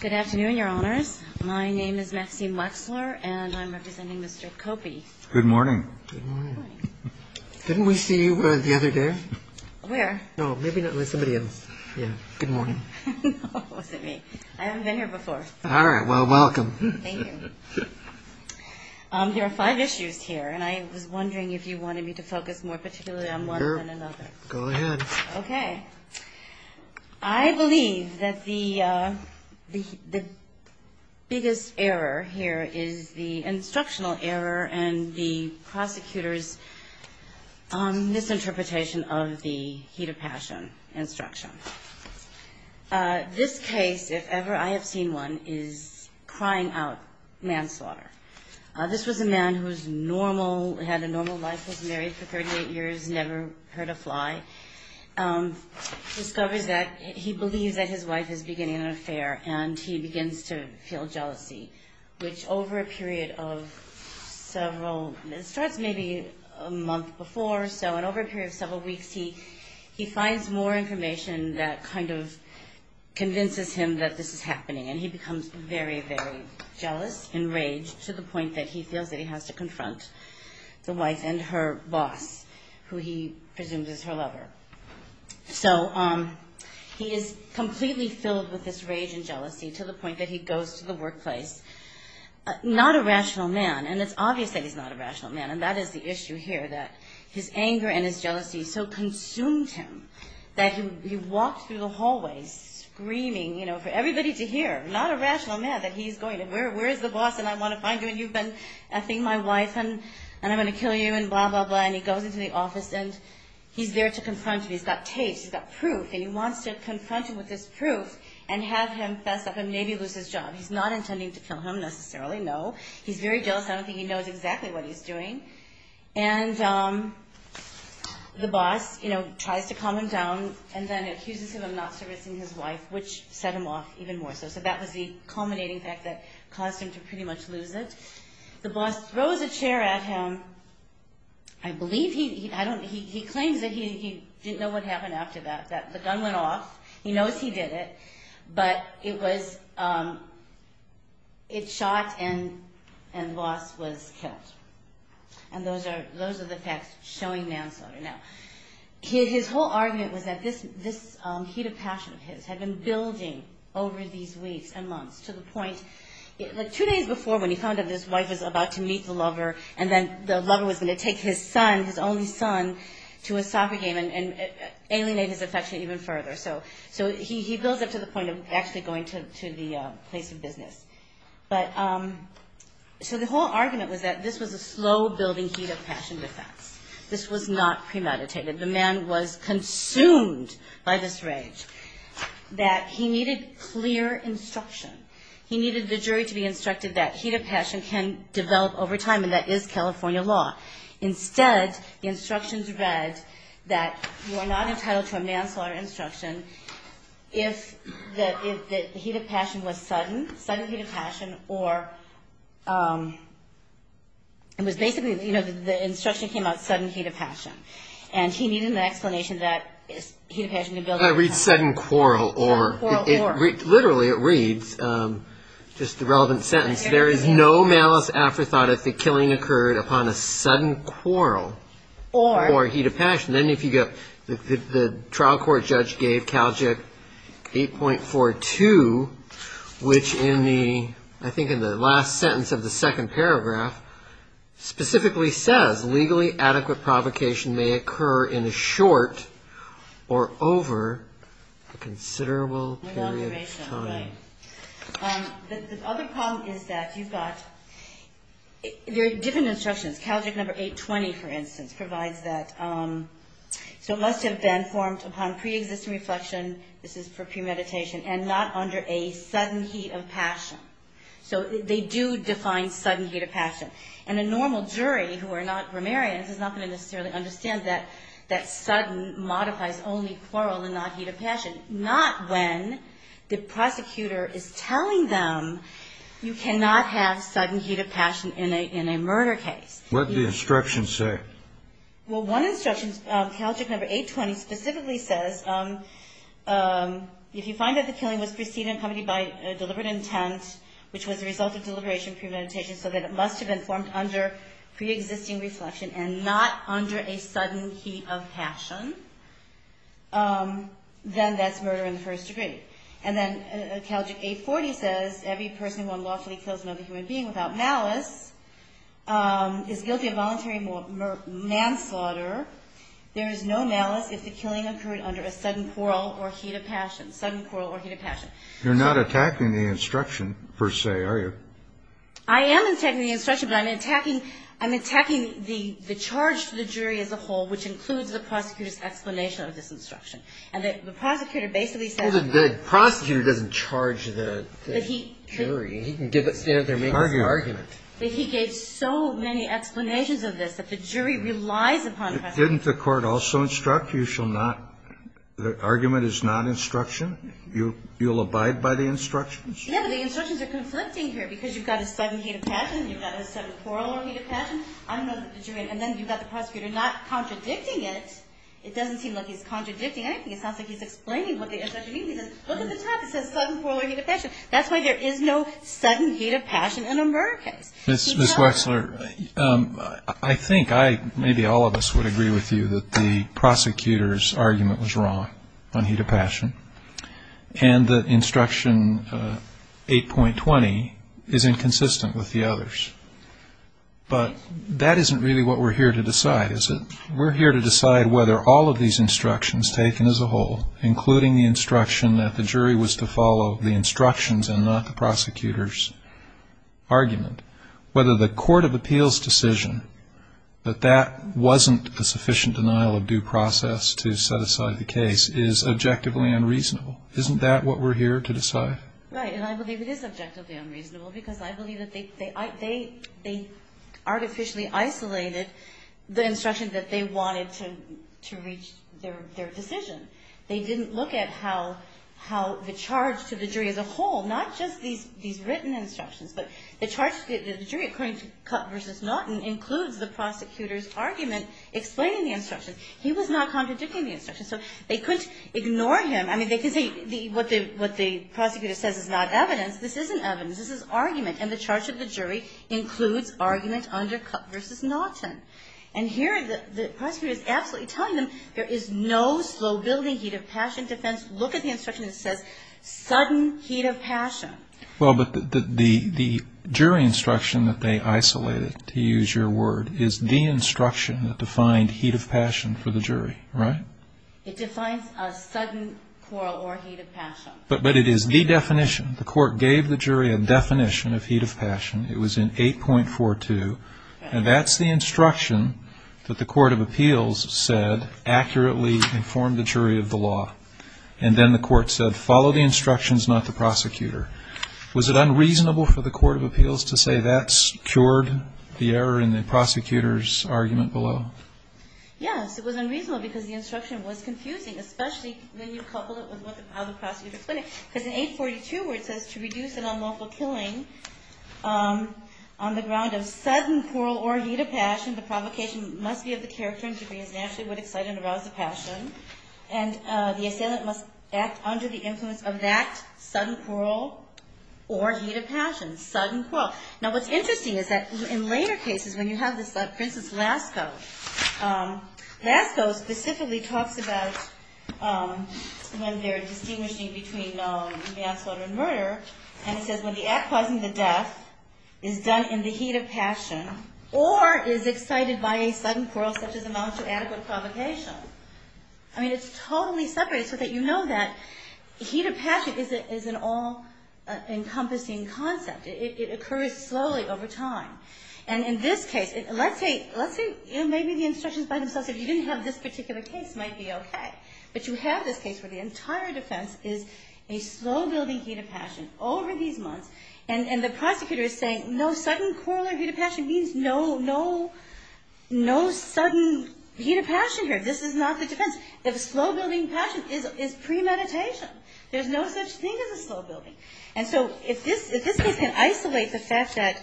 Good afternoon, your honors. My name is Maxine Wexler, and I'm representing Mr. Kopy. Good morning. Good morning. Didn't we see you the other day? Where? Oh, maybe not. There's somebody else. Yeah. Good morning. No, it wasn't me. I haven't been here before. All right. Well, welcome. Thank you. There are five issues here, and I was wondering if you wanted me to focus more particularly on one than another. Sure. Go ahead. Okay. I believe that the biggest error here is the instructional error and the prosecutor's misinterpretation of the heat of passion instruction. This case, if ever I have seen one, is crying out manslaughter. This was a man who had a normal life, was married for 38 years, never heard a fly, discovers that he believes that his wife is beginning an affair, and he begins to feel jealousy, which over a period of several – it starts maybe a month before, so over a period of several weeks, he finds more information that kind of convinces him that this is happening, and he becomes very, very jealous, enraged, to the point that he feels that he has to confront the wife and her boss, who he presumes is her lover. So he is completely filled with this rage and jealousy to the point that he goes to the workplace, not a rational man, and it's obvious that he's not a rational man, and that is the issue here, that his anger and his jealousy so consumed him that he walked through the hallways screaming for everybody to hear, not a rational man, that he's going to – where is the boss, and I want to find him, and you've been effing my wife, and I'm going to kill you, and blah, blah, blah, and he goes into the office, and he's there to confront him. He's got tapes. He's got proof, and he wants to confront him with this proof and have him fess up and maybe lose his job. He's not intending to kill him necessarily, no. He's very jealous. I don't think he knows exactly what he's doing, and the boss tries to calm him down and then accuses him of not servicing his wife, which set him off even more so. So that was the culminating fact that caused him to pretty much lose it. The boss throws a chair at him. I believe he – I don't – he claims that he didn't know what happened after that, that the gun went off. He knows he did it, but it was – it shot, and the boss was killed, and those are the facts showing manslaughter. Now, his whole argument was that this heat of passion of his had been building over these weeks and months to the point – like two days before when he found out his wife was about to meet the lover, and then the lover was going to take his son, his only son, to a soccer game and alienate his affection even further. So he builds up to the point of actually going to the place of business. But – so the whole argument was that this was a slow-building heat of passion defense. This was not premeditated. The man was consumed by this rage, that he needed clear instruction. He needed the jury to be instructed that heat of passion can develop over time, and that is California law. Instead, the instructions read that you are not entitled to a manslaughter instruction if the heat of passion was sudden, sudden heat of passion, or – it was basically, you know, the instruction came out sudden heat of passion, and he needed an explanation that heat of passion could build over time. I read sudden quarrel, or – literally it reads, just the relevant sentence, there is no malice afterthought if the killing occurred upon a sudden quarrel or heat of passion. Then if you get – the trial court judge gave Calgic 8.42, which in the – I think in the last sentence of the second paragraph, specifically says, legally adequate provocation may occur in a short or over a considerable period of time. The other problem is that you've got – there are different instructions. Calgic number 8.20, for instance, provides that – so it must have been formed upon preexisting reflection, this is for premeditation, and not under a sudden heat of passion. So they do define sudden heat of passion. And a normal jury who are not grammarians is not going to necessarily understand that that sudden modifies only quarrel and not heat of passion, not when the prosecutor is telling them you cannot have sudden heat of passion in a murder case. What did the instructions say? Well, one instruction, Calgic number 8.20, specifically says, if you find that the killing was preceded and accompanied by deliberate intent, which was the result of deliberation premeditation, so that it must have been formed under preexisting reflection and not under a sudden heat of passion, then that's murder in the first degree. And then Calgic 8.40 says, every person who unlawfully kills another human being without malice is guilty of voluntary manslaughter. There is no malice if the killing occurred under a sudden quarrel or heat of passion. Sudden quarrel or heat of passion. You're not attacking the instruction, per se, are you? I am attacking the instruction, but I'm attacking the charge to the jury as a whole, which includes the prosecutor's explanation of this instruction. And the prosecutor basically says – The prosecutor doesn't charge the jury. He can stand up there and make his own argument. He gave so many explanations of this that the jury relies upon – Didn't the court also instruct you shall not – the argument is not instruction? You'll abide by the instructions? Yeah, but the instructions are conflicting here because you've got a sudden heat of passion, you've got a sudden quarrel or heat of passion. I don't know that the jury – and then you've got the prosecutor not contradicting it. It doesn't seem like he's contradicting anything. It sounds like he's explaining what the instruction means. He says, look at the top. It says sudden quarrel or heat of passion. That's why there is no sudden heat of passion in a murder case. Ms. Wexler, I think I – maybe all of us would agree with you that the prosecutor's argument was wrong on heat of passion and that instruction 8.20 is inconsistent with the others. But that isn't really what we're here to decide, is it? We're here to decide whether all of these instructions taken as a whole, including the instruction that the jury was to follow the instructions and not the prosecutor's argument, whether the court of appeals decision that that wasn't a sufficient denial of due process to set aside the case is objectively unreasonable. Isn't that what we're here to decide? Right, and I believe it is objectively unreasonable because I believe that they artificially isolated the instruction that they wanted to reach their decision. They didn't look at how the charge to the jury as a whole, not just these written instructions, but the charge to the jury according to Cutt v. Naughton includes the prosecutor's argument explaining the instructions. He was not contradicting the instructions, so they couldn't ignore him. I mean, they can say what the prosecutor says is not evidence. This isn't evidence. This is argument, and the charge to the jury includes argument under Cutt v. Naughton. And here the prosecutor is absolutely telling them there is no slow-building heat of passion defense. Look at the instruction that says sudden heat of passion. Well, but the jury instruction that they isolated, to use your word, is the instruction that defined heat of passion for the jury, right? It defines a sudden quarrel or heat of passion. But it is the definition. The court gave the jury a definition of heat of passion. It was in 8.42. And that's the instruction that the court of appeals said accurately informed the jury of the law. And then the court said, follow the instructions, not the prosecutor. Was it unreasonable for the court of appeals to say that's cured the error in the prosecutor's argument below? Yes, it was unreasonable because the instruction was confusing, especially when you couple it with how the prosecutor explained it. Because in 8.42 where it says to reduce an unlawful killing on the ground of sudden quarrel or heat of passion, the provocation must be of the character and degree as naturally would excite and arouse the passion. And the assailant must act under the influence of that sudden quarrel or heat of passion. Sudden quarrel. Now what's interesting is that in later cases when you have this, like Princess Lascaux. Lascaux specifically talks about when they're distinguishing between manslaughter and murder. And it says when the act causing the death is done in the heat of passion or is excited by a sudden quarrel such as amounts to adequate provocation. I mean, it's totally separated so that you know that heat of passion is an all-encompassing concept. It occurs slowly over time. And in this case, let's say maybe the instructions by themselves if you didn't have this particular case might be okay. But you have this case where the entire defense is a slow-building heat of passion over these months. And the prosecutor is saying no sudden quarrel or heat of passion means no sudden heat of passion here. This is not the defense. If slow-building passion is premeditation, there's no such thing as a slow-building. And so if this case can isolate the fact that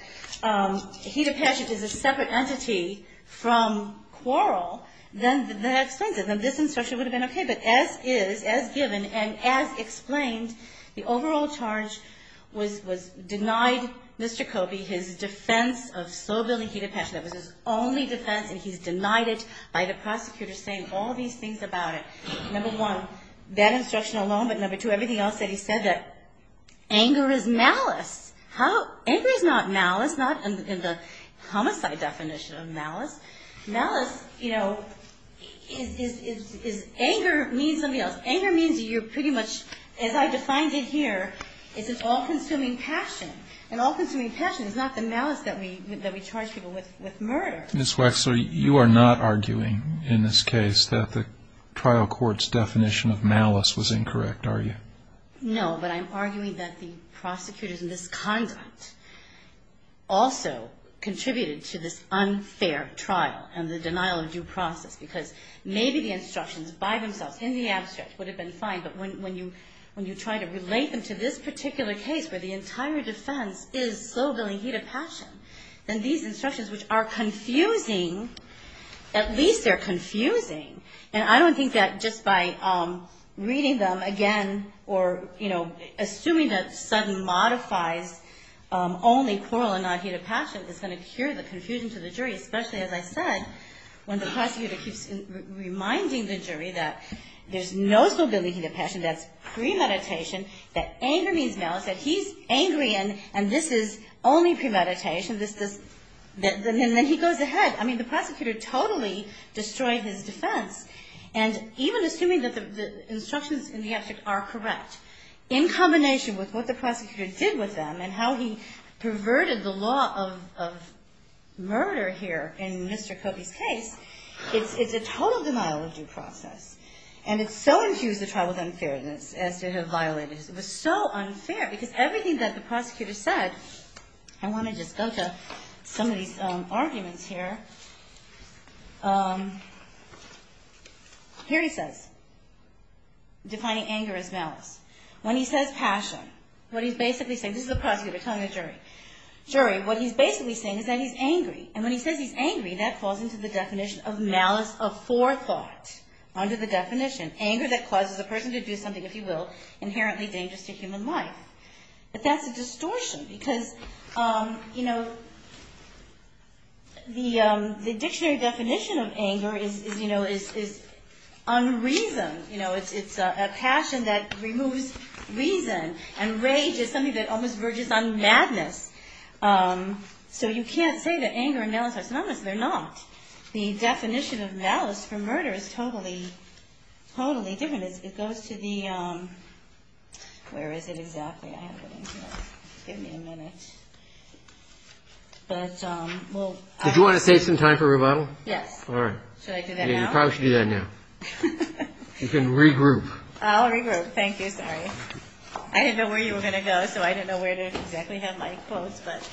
heat of passion is a separate entity from quarrel, then that explains it. Then this instruction would have been okay. But as is, as given, and as explained, the overall charge was denied Mr. Kobe his defense of slow-building heat of passion. That was his only defense, and he's denied it by the prosecutor saying all these things about it. Number one, that instruction alone. But number two, everything else that he said that anger is malice. Anger is not malice, not in the homicide definition of malice. Malice, you know, is anger means something else. Anger means you're pretty much, as I defined it here, it's an all-consuming passion. An all-consuming passion is not the malice that we charge people with with murder. Ms. Wexler, you are not arguing in this case that the trial court's definition of malice was incorrect, are you? No, but I'm arguing that the prosecutor's misconduct also contributed to this unfair trial and the denial of due process because maybe the instructions by themselves in the abstract would have been fine, but when you try to relate them to this particular case where the entire defense is slow-building heat of passion, then these instructions which are confusing, at least they're confusing. And I don't think that just by reading them again or, you know, assuming that Sutton modifies only plural and not heat of passion is going to cure the confusion to the jury, especially, as I said, when the prosecutor keeps reminding the jury that there's no slow-building heat of passion, that's premeditation, that anger means malice, that he's angry and this is only premeditation, and then he goes ahead. I mean, the prosecutor totally destroyed his defense. And even assuming that the instructions in the abstract are correct, under the law of murder here in Mr. Copey's case, it's a total denial of due process. And it so infused the trial with unfairness as to have violated it. It was so unfair because everything that the prosecutor said, I want to just go to some of these arguments here. Here he says, defining anger as malice. When he says passion, what he's basically saying, this is the prosecutor telling the jury, jury, what he's basically saying is that he's angry. And when he says he's angry, that falls into the definition of malice of forethought under the definition. Anger that causes a person to do something, if you will, inherently dangerous to human life. But that's a distortion because, you know, the dictionary definition of anger is, you know, is unreason. You know, it's a passion that removes reason. And rage is something that almost verges on madness. So you can't say that anger and malice are synonymous. They're not. The definition of malice for murder is totally, totally different. It goes to the – where is it exactly? I have it in here. Give me a minute. But we'll – Did you want to save some time for rebuttal? Yes. All right. Should I do that now? You probably should do that now. You can regroup. I'll regroup. Thank you. I'm sorry. I didn't know where you were going to go, so I didn't know where to exactly have my clothes. But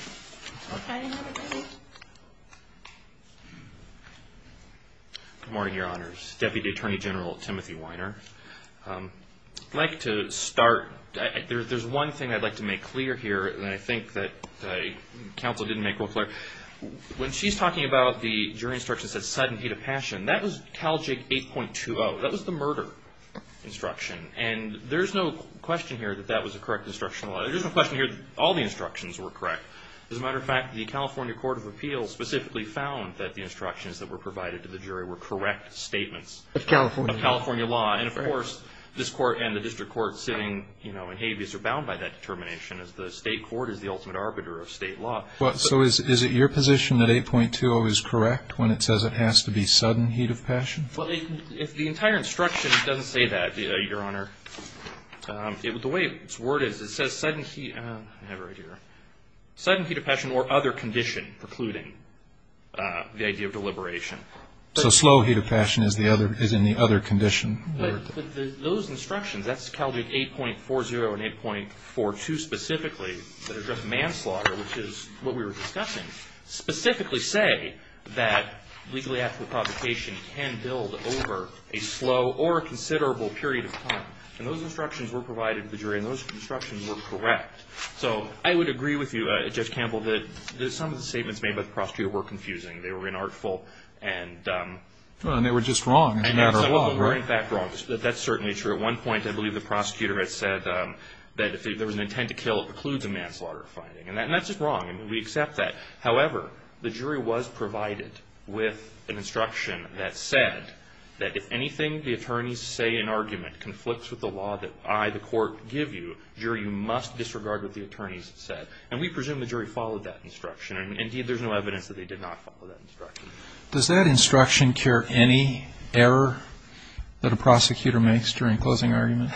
we'll try another question. Good morning, Your Honors. Deputy Attorney General Timothy Weiner. I'd like to start – there's one thing I'd like to make clear here that I think that the counsel didn't make real clear. When she's talking about the jury instructions that said sudden hate of passion, that was CALJIG 8.20. That was the murder instruction. And there's no question here that that was a correct instructional – there's no question here that all the instructions were correct. As a matter of fact, the California Court of Appeals specifically found that the instructions that were provided to the jury were correct statements. Of California law. Of California law. And, of course, this court and the district court sitting in habeas are bound by that determination, as the state court is the ultimate arbiter of state law. So is it your position that 8.20 is correct when it says it has to be sudden hate of passion? The entire instruction doesn't say that, Your Honor. The way its word is, it says sudden – I have it right here. Sudden hate of passion or other condition precluding the idea of deliberation. So slow hate of passion is in the other condition. Those instructions, that's CALJIG 8.40 and 8.42 specifically, that address manslaughter, which is what we were discussing, specifically say that legally apt for provocation can build over a slow or considerable period of time. And those instructions were provided to the jury, and those instructions were correct. So I would agree with you, Judge Campbell, that some of the statements made by the prosecutor were confusing. They were inartful and – Well, and they were just wrong, as a matter of law. They were, in fact, wrong. That's certainly true. At one point, I believe the prosecutor had said that if there was an intent to kill, it precludes a manslaughter finding. And that's just wrong. We accept that. However, the jury was provided with an instruction that said that if anything the attorneys say in argument conflicts with the law that I, the court, give you, jury, you must disregard what the attorneys said. And we presume the jury followed that instruction. Indeed, there's no evidence that they did not follow that instruction. Does that instruction cure any error that a prosecutor makes during a closing argument?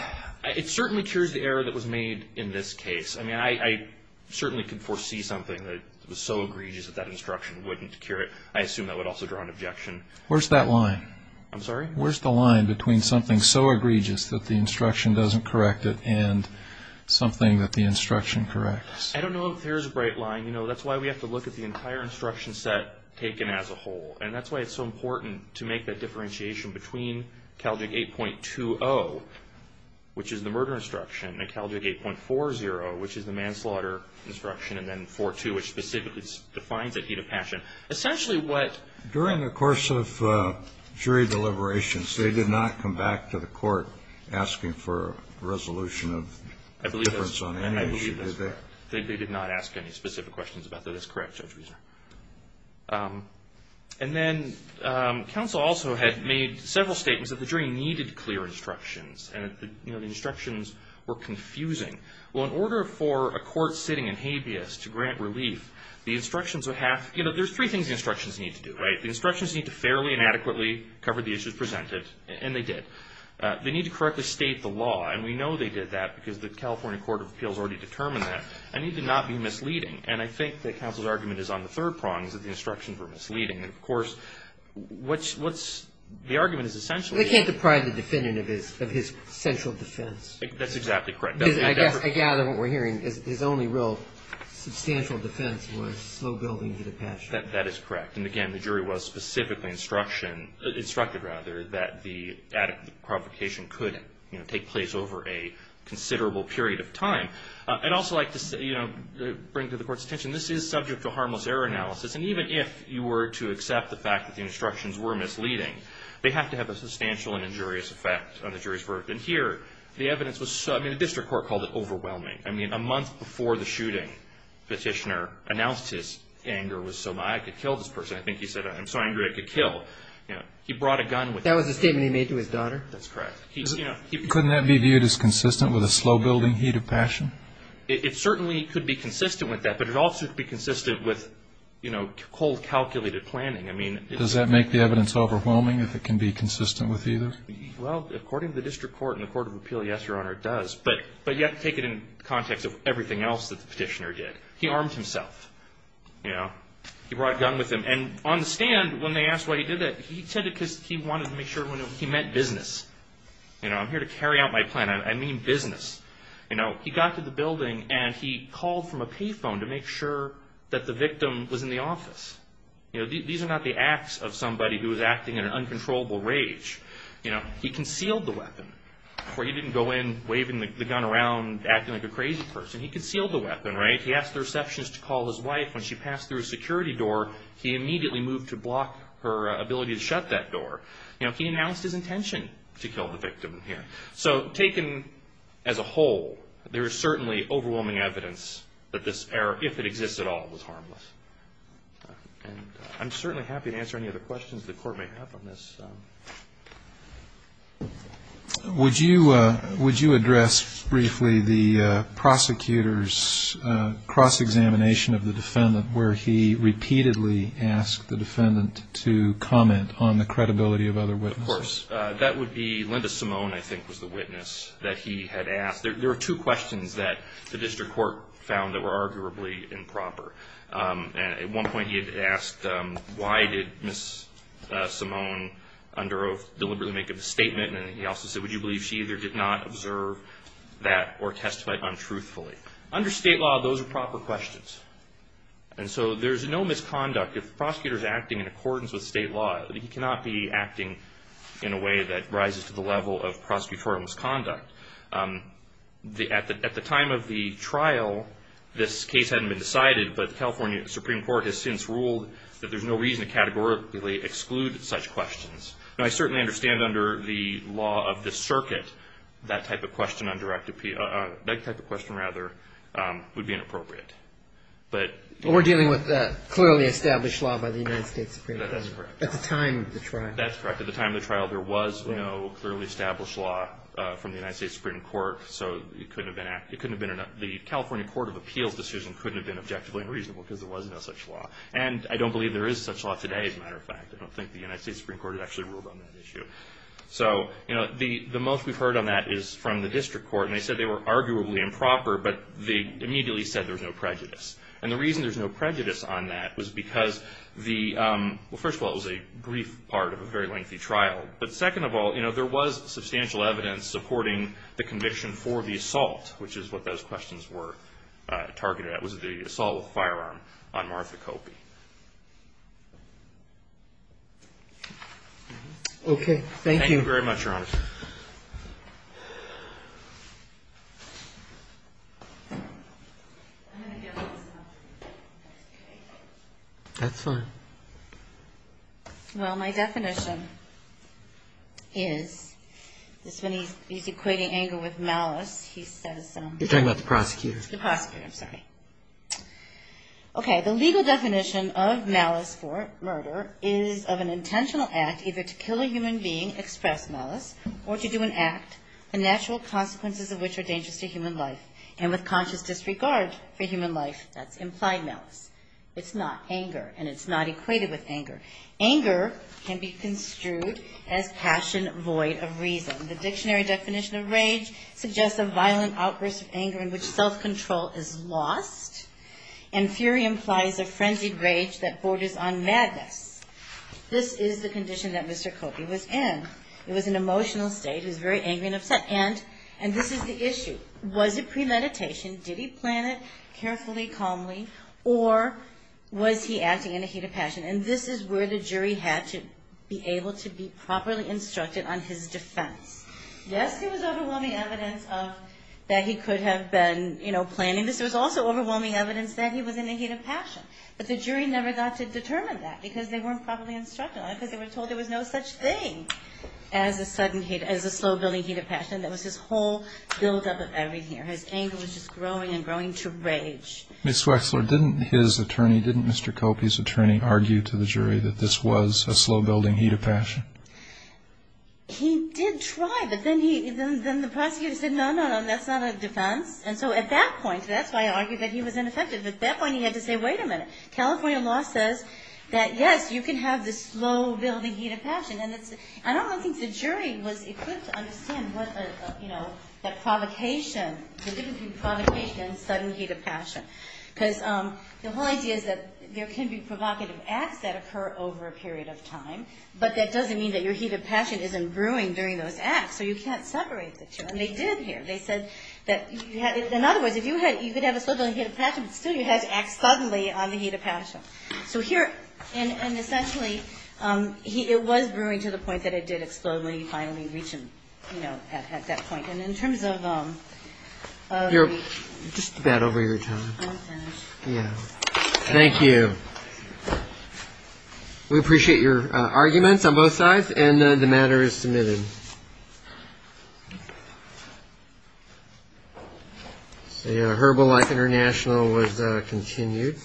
It certainly cures the error that was made in this case. I mean, I certainly could foresee something that was so egregious that that instruction wouldn't cure it. I assume that would also draw an objection. Where's that line? I'm sorry? Where's the line between something so egregious that the instruction doesn't correct it and something that the instruction corrects? I don't know if there's a bright line. You know, that's why we have to look at the entire instruction set taken as a whole. And that's why it's so important to make that differentiation between CALJIG 8.20, which is the murder instruction, and CALJIG 8.40, which is the manslaughter instruction, and then 4.2, which specifically defines a heat of passion. Essentially what ---- During the course of jury deliberations, they did not come back to the court asking for a resolution of difference on any issue, did they? I believe that's correct. They did not ask any specific questions about that. That's correct, Judge Riesner. And then counsel also had made several statements that the jury needed clear instructions and, you know, the instructions were confusing. Well, in order for a court sitting in habeas to grant relief, the instructions would have ---- You know, there's three things the instructions need to do, right? The instructions need to fairly and adequately cover the issues presented, and they did. They need to correctly state the law, and we know they did that because the California Court of Appeals already determined that. And they did not be misleading. And I think that counsel's argument is on the third prong, is that the instructions were misleading. And, of course, what's ---- the argument is essentially ---- They can't deprive the defendant of his central defense. That's exactly correct. I gather what we're hearing is his only real substantial defense was slow building to the passion. That is correct. And, again, the jury was specifically instruction ---- instructed, rather, that the provocation could, you know, take place over a considerable period of time. I'd also like to, you know, bring to the Court's attention, this is subject to harmless error analysis. And even if you were to accept the fact that the instructions were misleading, they have to have a substantial and injurious effect on the jury's verdict. And here, the evidence was so ---- I mean, the district court called it overwhelming. I mean, a month before the shooting, Petitioner announced his anger was so high, it could kill this person. I think he said, I'm so angry it could kill. You know, he brought a gun with him. That was a statement he made to his daughter? That's correct. Couldn't that be viewed as consistent with a slow building heat of passion? It certainly could be consistent with that. But it also could be consistent with, you know, cold, calculated planning. I mean ---- Does that make the evidence overwhelming if it can be consistent with either? Well, according to the district court and the court of appeal, yes, Your Honor, it does. But you have to take it in context of everything else that the Petitioner did. He armed himself. You know, he brought a gun with him. And on the stand, when they asked why he did that, he said it because he wanted to make sure he meant business. You know, I'm here to carry out my plan. I mean business. You know, he got to the building and he called from a pay phone to make sure that the victim was in the office. You know, these are not the acts of somebody who is acting in an uncontrollable rage. You know, he concealed the weapon. He didn't go in waving the gun around, acting like a crazy person. He concealed the weapon, right? He asked the receptionist to call his wife. When she passed through a security door, he immediately moved to block her ability to shut that door. You know, he announced his intention to kill the victim here. So taken as a whole, there is certainly overwhelming evidence that this error, if it exists at all, was harmless. And I'm certainly happy to answer any other questions the court may have on this. Would you address briefly the prosecutor's cross-examination of the defendant where he repeatedly asked the defendant to comment on the credibility of other witnesses? Of course. That would be Linda Simone, I think, was the witness that he had asked. There were two questions that the district court found that were arguably improper. At one point, he had asked, why did Ms. Simone under oath deliberately make a statement? And he also said, would you believe she either did not observe that or testify untruthfully? Under state law, those are proper questions. And so there's no misconduct. If the prosecutor is acting in accordance with state law, he cannot be acting in a way that rises to the level of prosecutorial misconduct. At the time of the trial, this case hadn't been decided, but the California Supreme Court has since ruled that there's no reason to categorically exclude such questions. Now, I certainly understand under the law of the circuit, that type of question would be inappropriate. But we're dealing with clearly established law by the United States Supreme Court. That's correct. At the time of the trial. There was clearly established law from the United States Supreme Court. So the California Court of Appeals decision couldn't have been objectively unreasonable because there was no such law. And I don't believe there is such law today, as a matter of fact. I don't think the United States Supreme Court had actually ruled on that issue. So the most we've heard on that is from the district court. And they said they were arguably improper, but they immediately said there was no prejudice. And the reason there's no prejudice on that was because the – But second of all, you know, there was substantial evidence supporting the conviction for the assault, which is what those questions were targeted at, was the assault with a firearm on Martha Copey. Okay. Thank you. Thank you very much, Your Honor. That's fine. Well, my definition is – this one, he's equating anger with malice. He says – You're talking about the prosecutor. The prosecutor. I'm sorry. Okay. The legal definition of malice for murder is of an intentional act either to kill a human being, express malice, or to do an act, the natural consequences of which are dangerous to human life, and with conscious disregard for human life. That's implied malice. It's not anger. And it's not equated with anger. Anger can be construed as passion void of reason. The dictionary definition of rage suggests a violent outburst of anger in which self-control is lost, and fury implies a frenzied rage that borders on madness. This is the condition that Mr. Copey was in. It was an emotional state. He was very angry and upset. And this is the issue. Was it premeditation? Did he plan it carefully, calmly? Or was he acting in a heat of passion? And this is where the jury had to be able to be properly instructed on his defense. Yes, there was overwhelming evidence that he could have been planning this. There was also overwhelming evidence that he was in a heat of passion. But the jury never got to determine that because they weren't properly instructed on it because they were told there was no such thing as a slow-building heat of passion. There was this whole buildup of anger here. His anger was just growing and growing to rage. Ms. Wexler, didn't his attorney, didn't Mr. Copey's attorney, argue to the jury that this was a slow-building heat of passion? He did try, but then the prosecutor said, no, no, no, that's not a defense. And so at that point, that's why I argue that he was ineffective. At that point he had to say, wait a minute, California law says that, yes, you can have this slow-building heat of passion. And I don't think the jury was equipped to understand what, you know, that provocation, the difference between provocation and sudden heat of passion. Because the whole idea is that there can be provocative acts that occur over a period of time, but that doesn't mean that your heat of passion isn't brewing during those acts. So you can't separate the two. And they did here. They said that, in other words, if you could have a slow-building heat of passion, but still you had to act suddenly on the heat of passion. So here, and essentially, it was brewing to the point that it did explode when he finally reached, you know, at that point. And in terms of... You're just a bit over your time. I'm finished. Yeah. Thank you. We appreciate your arguments on both sides. And the matter is submitted. So, yeah, Herbal Life International was continued.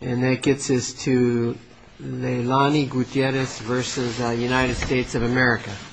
And that gets us to Leilani Gutierrez versus United States of America.